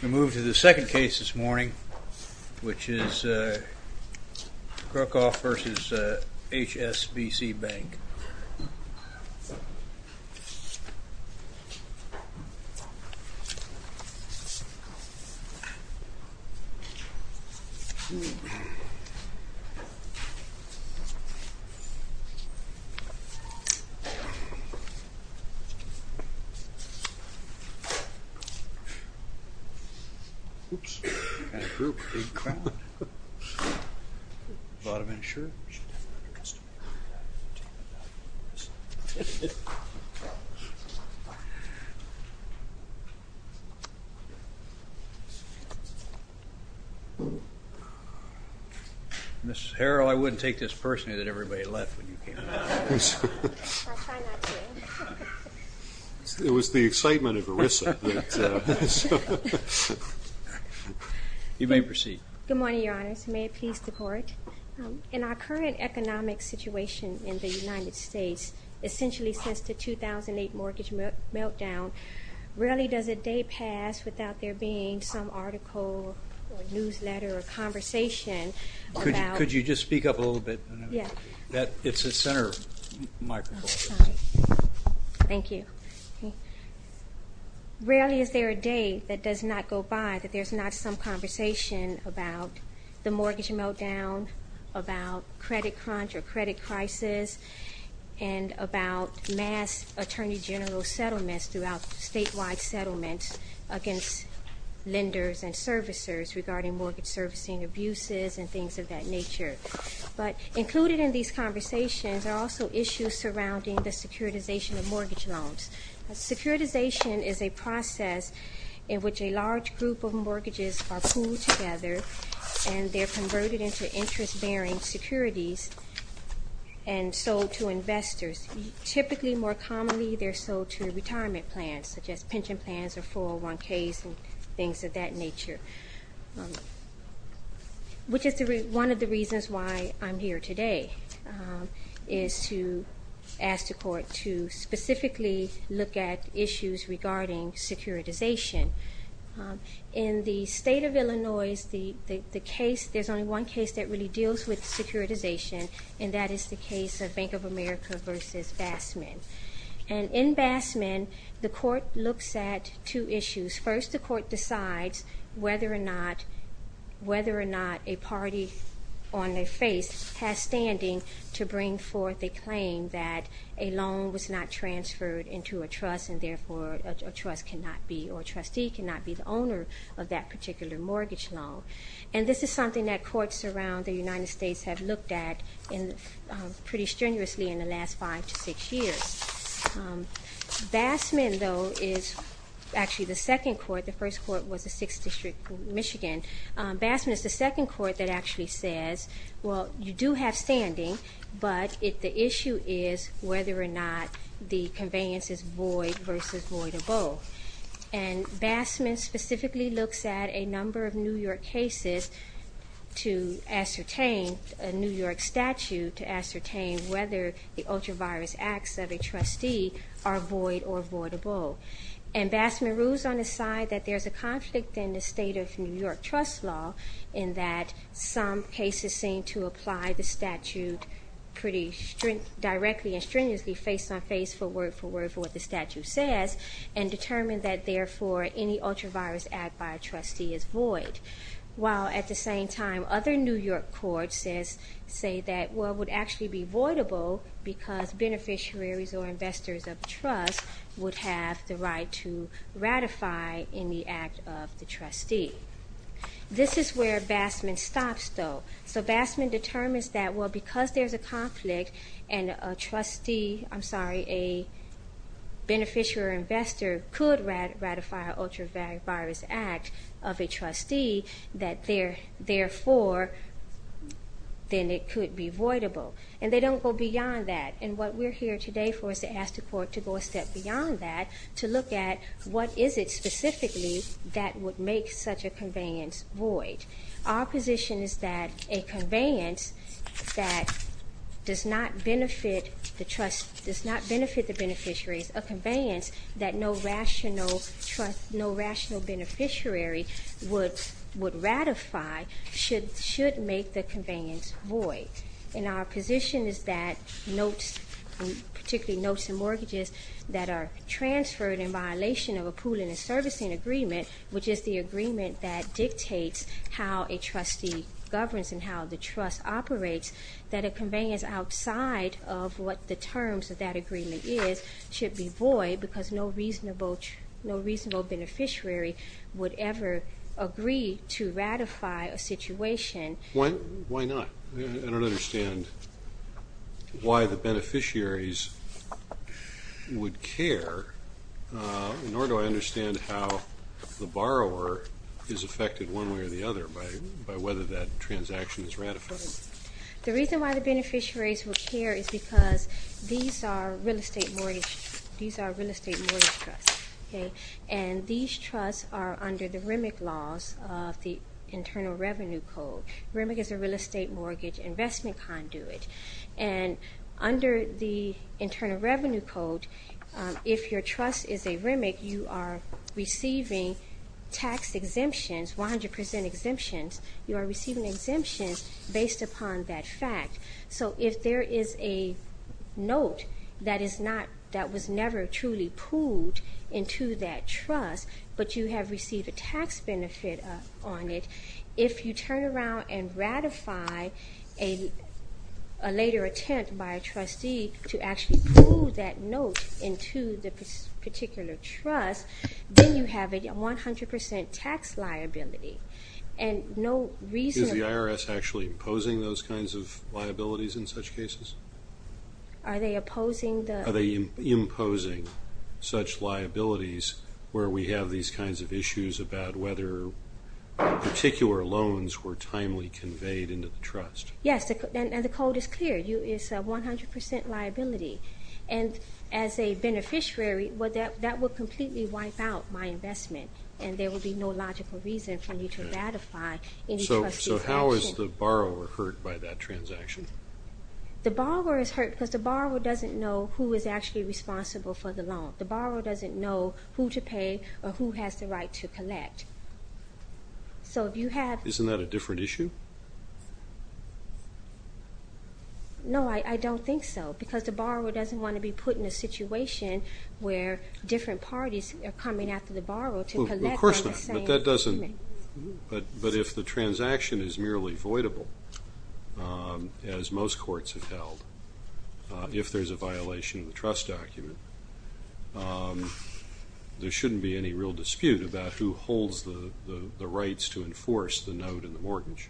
We move to the second case this morning, which is Crocroft v. HSBC Bank. Ms. Harrell, I wouldn't take this personally that everybody left when you came in. It was the excitement of ERISA. You may proceed. Good morning, Your Honors. May it please the Court. In our current economic situation in the United States, essentially since the 2008 mortgage meltdown, rarely does a day pass without there being some article or newsletter or conversation about... Could you just speak up a little bit? Yeah. It's the center microphone. Thank you. Rarely is there a day that does not go by that there's not some conversation about the mortgage meltdown, about credit crunch or credit crisis, and about mass attorney general settlements throughout statewide settlements against lenders and servicers regarding mortgage servicing abuses and things of that nature. But included in these conversations are also issues surrounding the securitization of mortgage loans. Securitization is a process in which a large group of mortgages are pooled together and they're converted into interest-bearing securities and sold to investors. Typically more commonly, they're sold to retirement plans, such as pension plans or 401Ks and which is one of the reasons why I'm here today, is to ask the Court to specifically look at issues regarding securitization. In the state of Illinois, the case, there's only one case that really deals with securitization and that is the case of Bank of America versus Bassman. And in Bassman, the Court looks at two issues. First, the Court decides whether or not a party on their face has standing to bring forth a claim that a loan was not transferred into a trust and therefore a trust cannot be, or a trustee cannot be the owner of that particular mortgage loan. And this is something that courts around the United States have looked at pretty strenuously in the last five to six years. Bassman, though, is actually the second court, the first court was the 6th District, Michigan. Bassman is the second court that actually says, well, you do have standing, but the issue is whether or not the conveyance is void versus voidable. And Bassman specifically looks at a number of New York cases to ascertain, a New York trustee, are void or voidable. And Bassman rules on the side that there's a conflict in the state of New York trust law in that some cases seem to apply the statute pretty directly and strenuously face-on-face for word-for-word for what the statute says and determine that, therefore, any ultra-virus act by a trustee is void. While at the same time, other New York courts say that, well, it would actually be voidable because beneficiaries or investors of the trust would have the right to ratify in the act of the trustee. This is where Bassman stops, though. So Bassman determines that, well, because there's a conflict and a trustee, I'm sorry, a beneficiary or investor could ratify an ultra-virus act of a trustee that, therefore, then it could be voidable. And they don't go beyond that. And what we're here today for is to ask the court to go a step beyond that to look at what is it specifically that would make such a conveyance void. Our position is that a conveyance that does not benefit the beneficiaries, a conveyance that no rational beneficiary would ratify should make the conveyance void. And our position is that notes, particularly notes and mortgages that are transferred in violation of a pooling and servicing agreement, which is the agreement that dictates how a trustee governs and how the trust operates, that a conveyance outside of what the terms of that agreement is should be void because no reasonable beneficiary would ever agree to ratify a situation. Why not? I don't understand why the beneficiaries would care, nor do I understand how the borrower is affected one way or the other by whether that transaction is ratified. The reason why the beneficiaries would care is because these are real estate mortgage trusts, okay? And these trusts are under the RIMIC laws of the Internal Revenue Code. RIMIC is the Real Estate Mortgage Investment Conduit, and under the Internal Revenue Code, if your trust is a RIMIC, you are receiving tax exemptions, 100 percent exemptions, you are receiving exemptions based upon that fact. So if there is a note that was never truly pooled into that trust, but you have received a tax benefit on it, if you turn around and ratify a later attempt by a trustee to actually pool that note into the particular trust, then you have a 100 percent tax liability. And no reason... Is the IRS actually imposing those kinds of liabilities in such cases? Are they opposing the... Are they imposing such liabilities where we have these kinds of issues about whether particular loans were timely conveyed into the trust? Yes, and the code is clear, it's a 100 percent liability. And as a beneficiary, that would completely wipe out my investment, and there would be no logical reason for me to ratify any trustee's action. So how is the borrower hurt by that transaction? The borrower is hurt because the borrower doesn't know who is actually responsible for the loan. The borrower doesn't know who to pay, or who has the right to collect. So if you have... Isn't that a different issue? No, I don't think so, because the borrower doesn't want to be put in a situation where different parties are coming after the borrower to collect... Of course not, but that doesn't... But if the transaction is merely voidable, as most courts have held, if there's a violation of the trust document, there shouldn't be any real dispute about who holds the rights to enforce the note and the mortgage.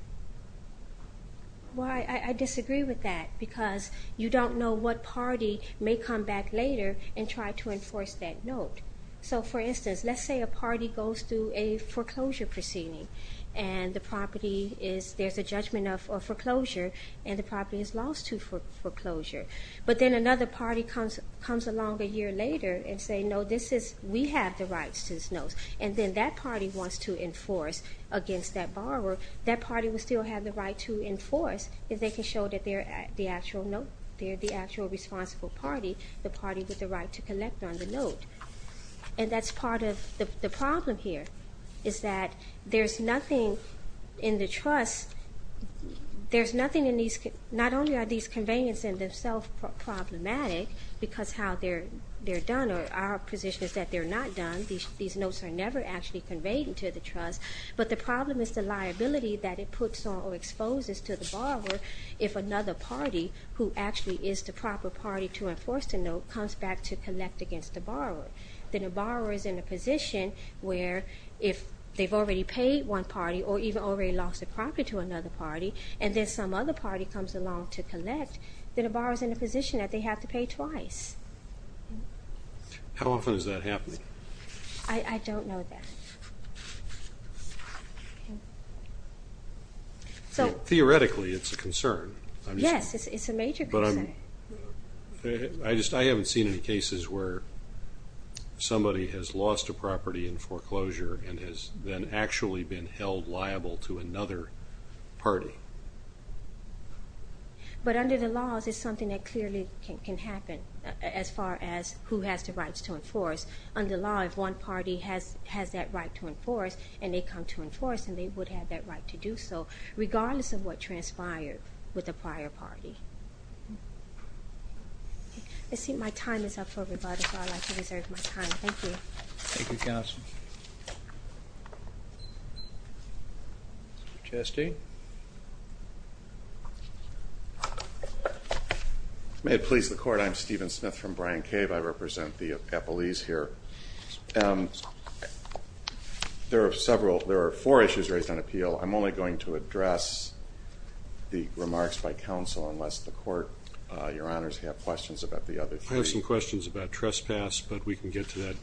Well, I disagree with that, because you don't know what party may come back later and try to enforce that note. So for instance, let's say a party goes through a foreclosure proceeding, and the property is... There's a judgment of foreclosure, and the property is lost to foreclosure. But then another party comes along a year later and say, no, this is... We have the rights to this note. And then that party wants to enforce against that borrower. That party will still have the right to enforce if they can show that they're the actual note, the party with the right to collect on the note. And that's part of the problem here, is that there's nothing in the trust... There's nothing in these... Not only are these conveyance in themselves problematic, because how they're done, or our position is that they're not done. These notes are never actually conveyed into the trust. But the problem is the liability that it puts on or exposes to the borrower if another party, who actually is the proper party to enforce the note, comes back to collect against the borrower. Then a borrower is in a position where if they've already paid one party, or even already lost the property to another party, and then some other party comes along to collect, then a borrower's in a position that they have to pay twice. How often is that happening? So theoretically, it's a concern. Yes, it's a major concern. I haven't seen any cases where somebody has lost a property in foreclosure and has then actually been held liable to another party. But under the laws, it's something that clearly can happen, as far as who has the rights to enforce. Under law, if one party has that right to enforce, and they come to enforce, then they would have that right to do so. Regardless of what transpired with the prior party. I think my time is up for rebuttal, so I'd like to reserve my time. Thank you. Thank you, Counselor. Trustee? May it please the Court, I'm Stephen Smith from Bryant Cave. I represent the Epelese here. There are several, there are four issues raised on appeal. I'm only going to address the remarks by counsel, unless the Court, Your Honors, have questions about the other three. I have some questions about trespass, but we can get to that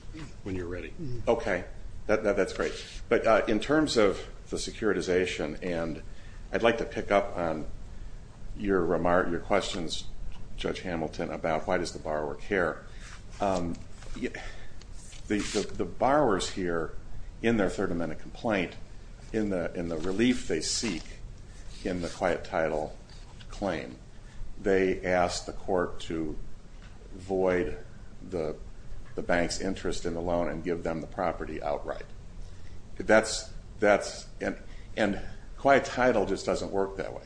when you're ready. Okay. That's great. But in terms of the securitization, and I'd like to pick up on your questions, Judge Hamilton, about why does the borrower care. The borrowers here, in their Third Amendment complaint, in the relief they seek in the quiet title claim, they ask the Court to void the bank's interest in the loan and give them the property outright. That's, and quiet title just doesn't work that way.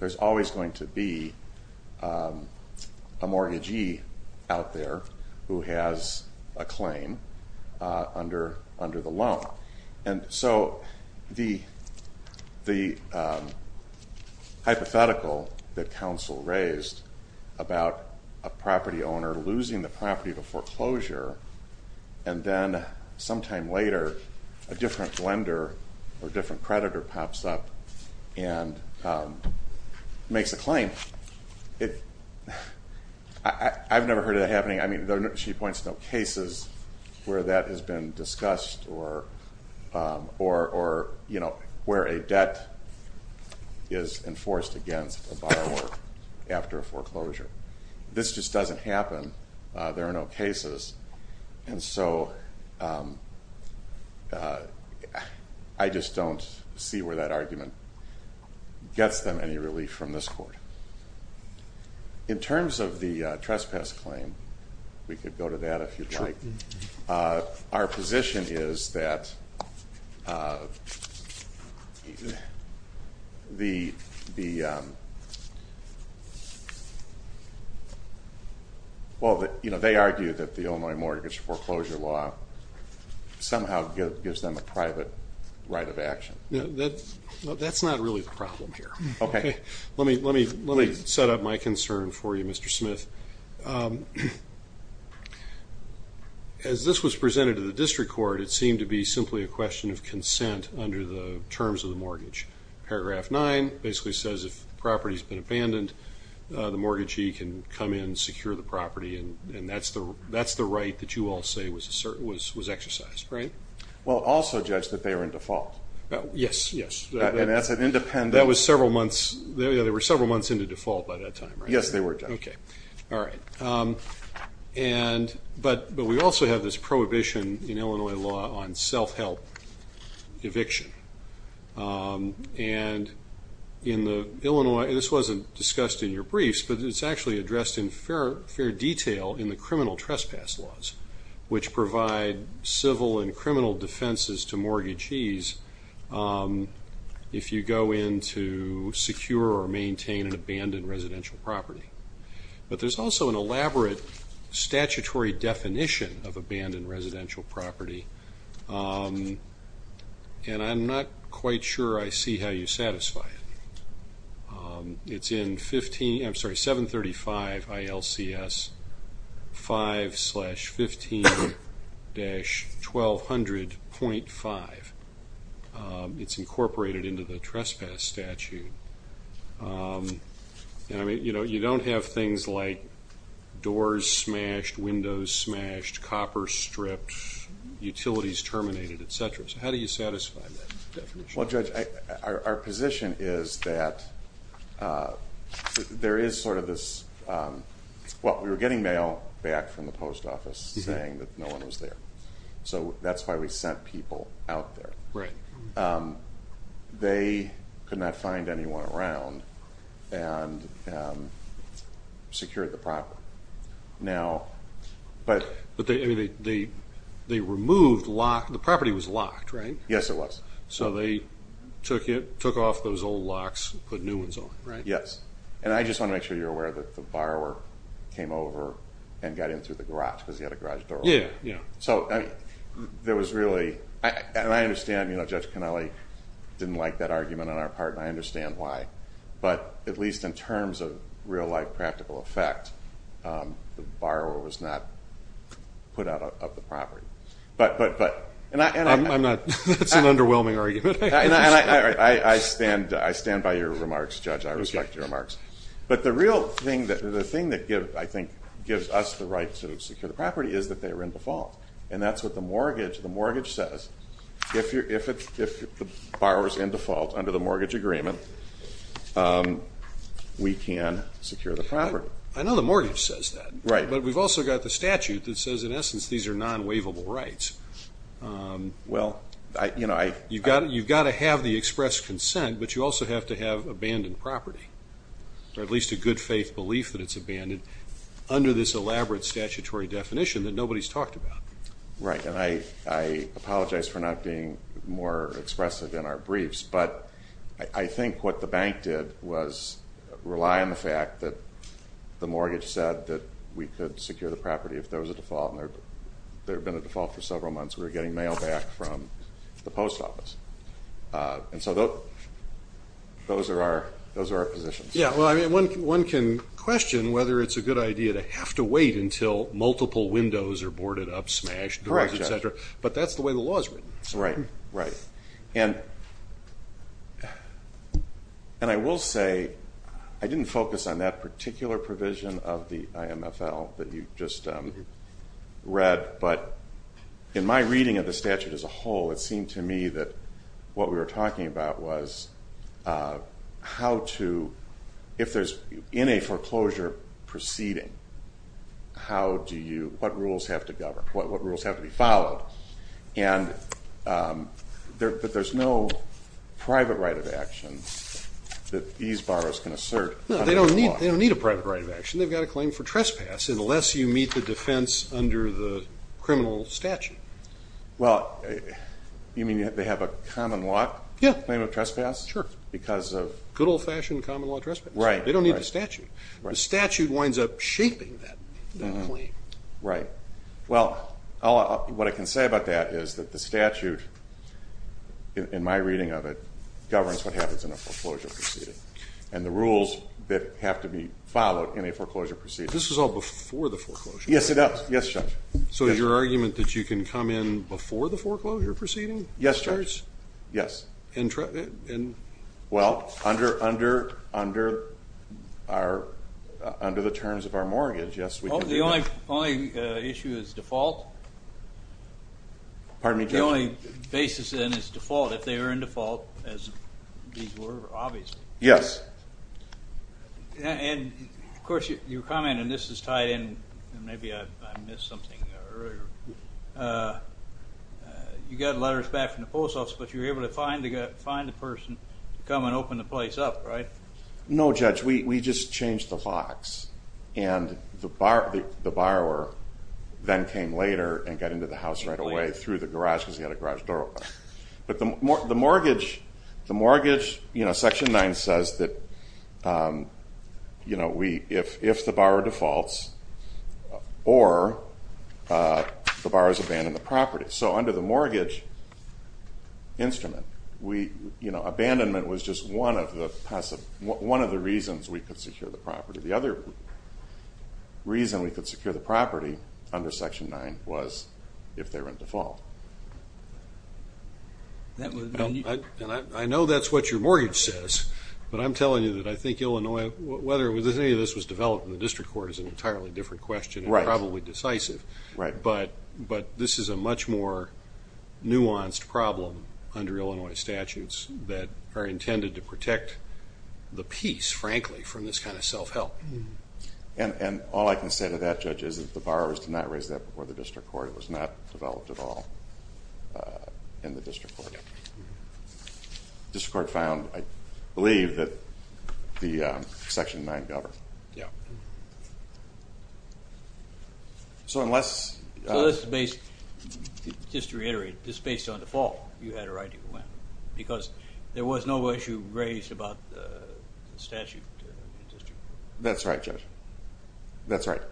There's always going to be a mortgagee out there who has a claim under the loan, and so the hypothetical that counsel raised about a property owner losing the property to foreclosure, and then sometime later a different lender or different creditor pops up and makes a claim, I've never heard that happening. I mean, she points to no cases where that has been discussed or where a debt is enforced against a borrower after a foreclosure. This just doesn't happen. There are no cases, and so I just don't see where that argument gets them any relief from this Court. In terms of the trespass claim, we could go to that if you'd like. Our position is that the, well, you know, they argue that the Illinois Mortgage Foreclosure Law somehow gives them a private right of action. That's not really the problem here. Okay. Let me set up my concern for you, Mr. Smith. As this was presented to the District Court, it seemed to be simply a question of consent under the terms of the mortgage. Paragraph 9 basically says if the property's been abandoned, the mortgagee can come in and secure the property, and that's the right that you all say was exercised, right? Well, also judge that they are in default. Yes, yes. And that's an independent. That was several months, yeah, they were several months into default by that time, right? Yes, they were, Judge. Okay. All right. And, but we also have this prohibition in Illinois law on self-help eviction, and in the Illinois, this wasn't discussed in your briefs, but it's actually addressed in fair detail in the criminal trespass laws, which provide civil and criminal defenses to mortgagees if you go in to secure or maintain an abandoned residential property. But there's also an elaborate statutory definition of abandoned residential property, and I'm not quite sure I see how you satisfy it. It's in 15, I'm sorry, 735 ILCS 5 slash 15 dash 1200.5. It's incorporated into the trespass statute, and I mean, you know, you don't have things like doors smashed, windows smashed, copper stripped, utilities terminated, et cetera. So how do you satisfy that definition? Well, Judge, our position is that there is sort of this, well, we were getting mail back from the post office saying that no one was there. So that's why we sent people out there. They could not find anyone around and secured the property. Now, but- But they removed, the property was locked, right? Yes, it was. So they took off those old locks and put new ones on, right? Yes. And I just want to make sure you're aware that the borrower came over and got in through the garage because he had a garage door open. So there was really, and I understand, you know, Judge Kennelly didn't like that argument on our part, and I understand why. But at least in terms of real life practical effect, the borrower was not put out of the property. But- I'm not, that's an underwhelming argument. I stand by your remarks, Judge, I respect your remarks. But the real thing that, the thing that I think gives us the right to secure the property is that they were in default. And that's what the mortgage says. If the borrower's in default under the mortgage agreement, we can secure the property. I know the mortgage says that, but we've also got the statute that says in essence these are non-waivable rights. Well I- You've got to have the expressed consent, but you also have to have abandoned property. Or at least a good faith belief that it's abandoned under this elaborate statutory definition that nobody's talked about. Right. And I apologize for not being more expressive in our briefs, but I think what the bank did was rely on the fact that the mortgage said that we could secure the property if there was a default. And there had been a default for several months. We were getting mail back from the post office. And so those are our positions. Yeah, well I mean one can question whether it's a good idea to have to wait until multiple windows are boarded up, smashed, etc. But that's the way the law is written. Right, right. And I will say I didn't focus on that particular provision of the IMFL that you just read, but in my reading of the statute as a whole, it seemed to me that what we were talking about was how to- if there's in a foreclosure proceeding, how do you- what rules have to govern? What rules have to be followed? But there's no private right of action that these borrowers can assert under the law. No, they don't need a private right of action. They've got a claim for trespass unless you meet the defense under the criminal statute. Well you mean they have a common law claim of trespass? Sure. Because of- Good old fashioned common law trespass. Right, right. They don't need the statute. The statute winds up shaping that claim. Right. Well, what I can say about that is that the statute, in my reading of it, governs what happens in a foreclosure proceeding and the rules that have to be followed in a foreclosure proceeding. This is all before the foreclosure? Yes, it does. Yes, Judge. So is your argument that you can come in before the foreclosure proceeding? Yes, Judge. Yes. Well, under our- under the terms of our mortgage, yes, we can do that. So the only issue is default? Pardon me, Judge? The only basis in is default, if they are in default, as these were, obviously. Yes. And, of course, your comment, and this is tied in, and maybe I missed something earlier. You got letters back from the post office, but you were able to find the person to come and open the place up, right? No, Judge. We just changed the locks, and the borrower then came later and got into the house right away through the garage, because he had a garage door open. But the mortgage, you know, Section 9 says that, you know, if the borrower defaults, or the borrower has abandoned the property. So under the mortgage instrument, we, you know, abandonment was just one of the passive, one of the reasons we could secure the property. The other reason we could secure the property under Section 9 was if they were in default. I know that's what your mortgage says, but I'm telling you that I think Illinois, whether any of this was developed in the district court is an entirely different question. Right. Probably decisive. Right. But this is a much more nuanced problem under Illinois statutes that are intended to protect the peace, frankly, from this kind of self-help. And all I can say to that, Judge, is that the borrowers did not raise that before the district court. It was not developed at all in the district court. District court found, I believe, that the Section 9 governed. Yeah. So unless... So this is based, just to reiterate, this is based on default, you had a right to complain, because there was no issue raised about the statute in the district court. That's right, Judge. That's right.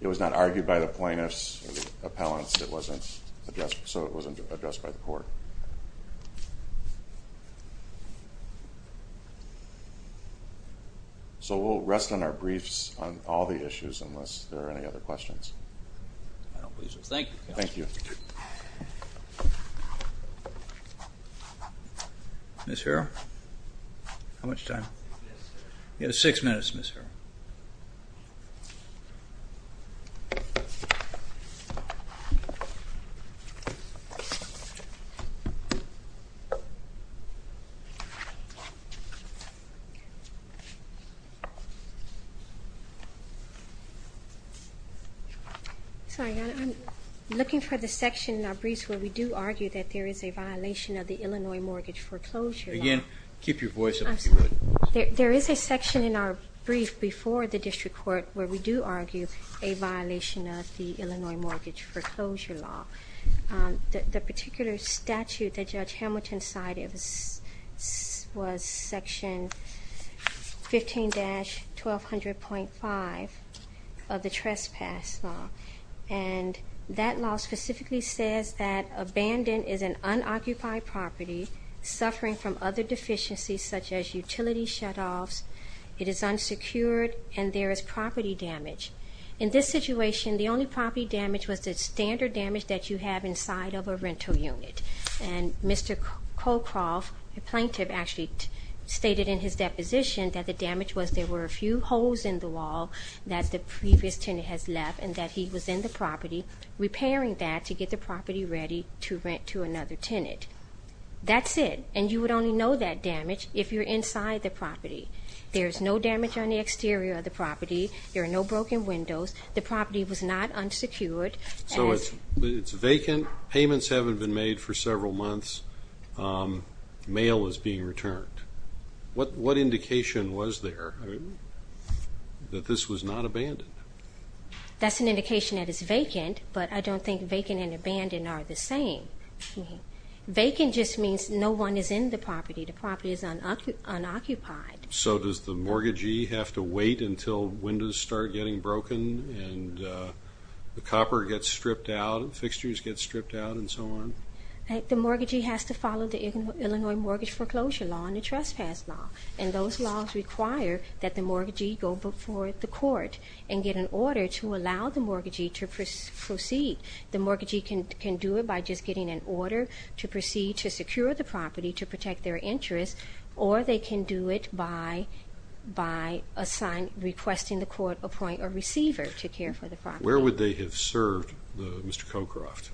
It was not argued by the plaintiffs or the appellants, so it wasn't addressed by the court. Right. So we'll rest on our briefs on all the issues, unless there are any other questions. I don't believe so. Thank you. Thank you. Ms. Harrell? How much time? You have six minutes, Ms. Harrell. Sorry, I'm looking for the section in our briefs where we do argue that there is a violation of the Illinois mortgage foreclosure law. Again, keep your voice up if you would. There is a section in our brief before the district court where we do argue a violation of the Illinois mortgage foreclosure law. The particular statute that Judge Hamilton cited was Section 15-1200.5 of the Trespass Law, and that law specifically says that abandoned is an unoccupied property suffering from other deficiencies such as utility shutoffs, it is unsecured, and there is property damage. In this situation, the only property damage was the standard damage that you have inside of a rental unit, and Mr. Colcroft, the plaintiff, actually stated in his deposition that the damage was there were a few holes in the wall that the previous tenant has left and that he was in the property repairing that to get the property ready to rent to another tenant. That's it, and you would only know that damage if you're inside the property. There's no damage on the exterior of the property, there are no broken windows, the property was not unsecured. So it's vacant, payments haven't been made for several months, mail is being returned. What indication was there that this was not abandoned? That's an indication that it's vacant, but I don't think vacant and abandoned are the same. Vacant just means no one is in the property, the property is unoccupied. So does the mortgagee have to wait until windows start getting broken and the copper gets stripped out and fixtures get stripped out and so on? The mortgagee has to follow the Illinois Mortgage Foreclosure Law and the Trespass Law, and those laws require that the mortgagee go before the court and get an order to allow the mortgagee to proceed. The mortgagee can do it by just getting an order to proceed to secure the property to protect their interest, or they can do it by requesting the court appoint a receiver to care for the property. Where would they have served, Mr. Cockcroft?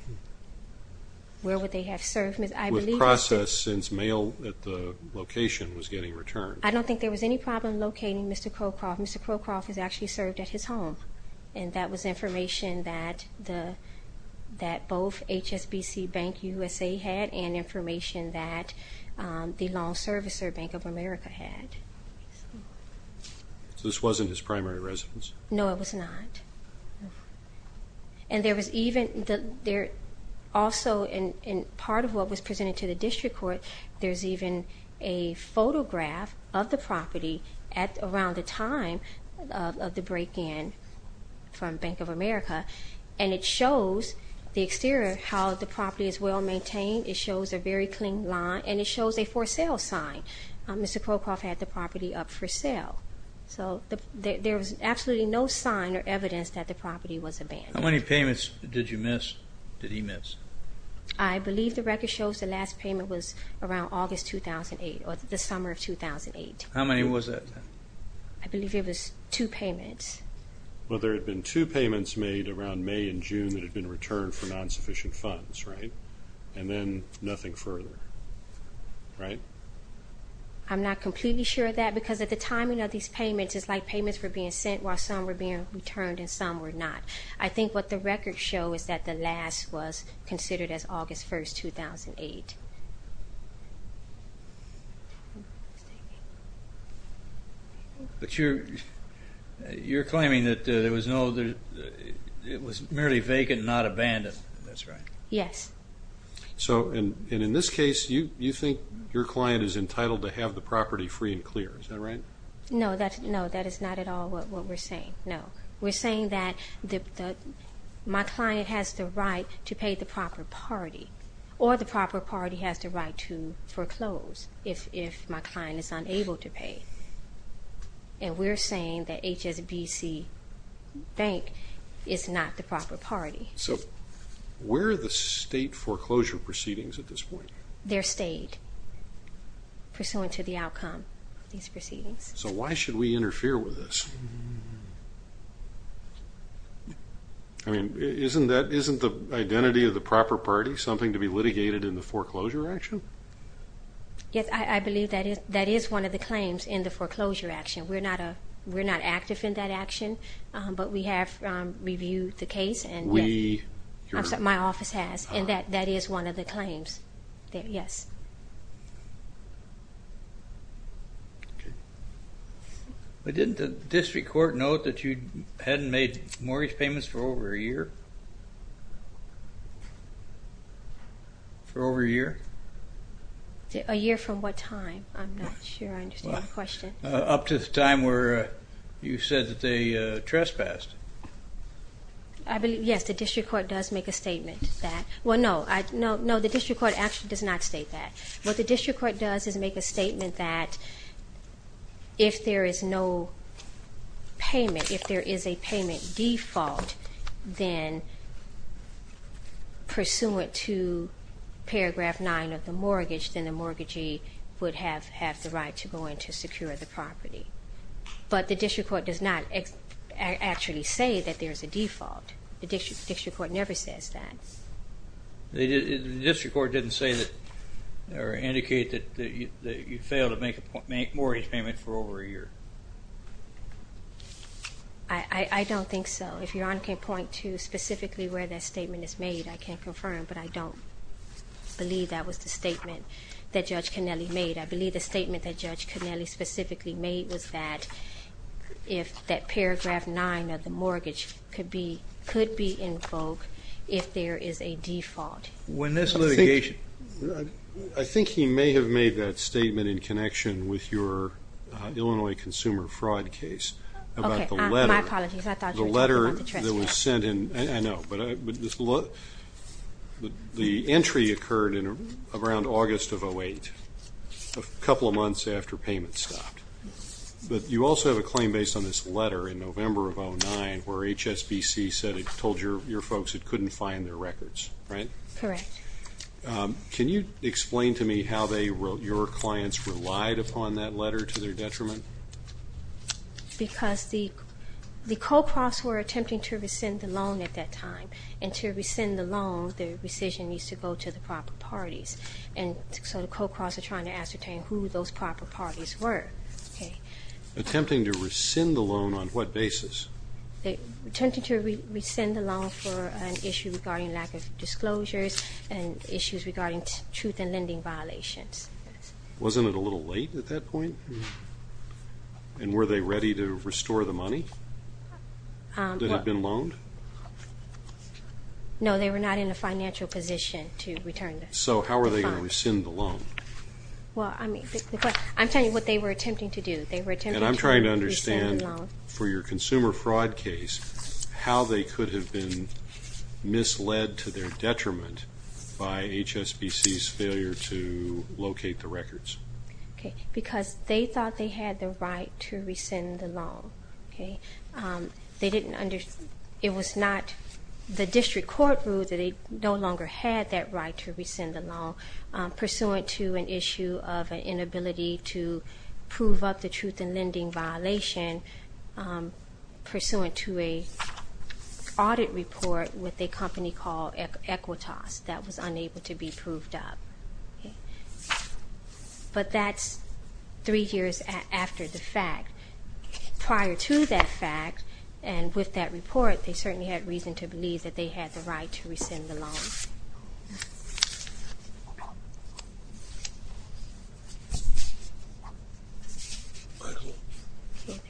Where would they have served? I believe... With process since mail at the location was getting returned. I don't think there was any problem locating Mr. Cockcroft. Mr. Cockcroft was actually served at his home, and that was information that both HSBC Bank USA had and information that the lawn servicer, Bank of America, had. So this wasn't his primary residence? No, it was not. And there was even, also in part of what was presented to the district court, there's even a photograph of the property at around the time of the break-in from Bank of America, and it shows the exterior of how the property is well maintained. It shows a very clean lawn, and it shows a for sale sign. Mr. Cockcroft had the property up for sale. So there was absolutely no sign or evidence that the property was abandoned. How many payments did you miss, did he miss? I believe the record shows the last payment was around August 2008, or the summer of 2008. How many was it? I believe it was two payments. Well, there had been two payments made around May and June that had been returned for non-sufficient funds, right? And then nothing further, right? I'm not completely sure of that, because at the timing of these payments, it's like payments were being sent while some were being returned and some were not. I think what the records show is that the last was considered as August 1st, 2008. But you're claiming that it was merely vacant and not abandoned, that's right? Yes. And in this case, you think your client is entitled to have the property free and clear, is that right? No, that is not at all what we're saying, no. We're saying that my client has the right to pay the proper party, or the proper party has the right to foreclose if my client is unable to pay. And we're saying that HSBC Bank is not the proper party. So where are the state foreclosure proceedings at this point? They're stayed, pursuant to the outcome of these proceedings. So why should we interfere with this? I mean, isn't the identity of the proper party something to be litigated in the foreclosure action? Yes, I believe that is one of the claims in the foreclosure action. We're not active in that action, but we have reviewed the case and my office has, and that is one of the claims, yes. Okay. But didn't the district court note that you hadn't made mortgage payments for over a year? For over a year? A year from what time? I'm not sure I understand the question. Up to the time where you said that they trespassed. I believe, yes, the district court does make a statement that, well, no, the district court actually does not state that. What the district court does is make a statement that if there is no payment, if there is a payment default, then pursuant to paragraph nine of the mortgage, then the mortgagee would have the right to go in to secure the property. But the district court does not actually say that there is a default. The district court never says that. The district court didn't say that or indicate that you failed to make a mortgage payment for over a year. I don't think so. If Your Honor can point to specifically where that statement is made, I can confirm, but I don't believe that was the statement that Judge Kennelly made. I believe the statement that Judge Kennelly specifically made was that if that paragraph nine of the mortgage could be in vogue if there is a default. When this litigation... I think he may have made that statement in connection with your Illinois consumer fraud case about the letter. Okay. My apologies. I thought you were talking about the trespass. The letter that was sent in. I know. But the entry occurred around August of 2008, a couple of months after payment stopped. But you also have a claim based on this letter in November of 2009 where HSBC said it told your folks it couldn't find their records, right? Correct. Can you explain to me how your clients relied upon that letter to their detriment? Because the co-profits were attempting to rescind the loan at that time, and to rescind the loan, the rescission needs to go to the proper parties. And so the co-profits were trying to ascertain who those proper parties were. Attempting to rescind the loan on what basis? They attempted to rescind the loan for an issue regarding lack of disclosures and issues regarding truth and lending violations. Wasn't it a little late at that point? And were they ready to restore the money that had been loaned? So how were they going to rescind the loan? Well, I'm telling you what they were attempting to do. They were attempting to rescind the loan. And I'm trying to understand, for your consumer fraud case, how they could have been misled to their detriment by HSBC's failure to locate the records. Because they thought they had the right to rescind the loan. It was not the district court rule that they no longer had that right to rescind the loan, pursuant to an issue of an inability to prove up the truth and lending violation, pursuant to an audit report with a company called Equitas that was unable to be proved up. But that's three years after the fact. Prior to that fact, and with that report, they certainly had reason to believe that they had the right to rescind the loan. Thank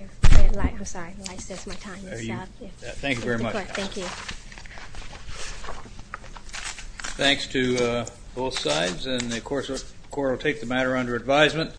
you very much. Thanks to both sides, and the court will take the matter under advisement.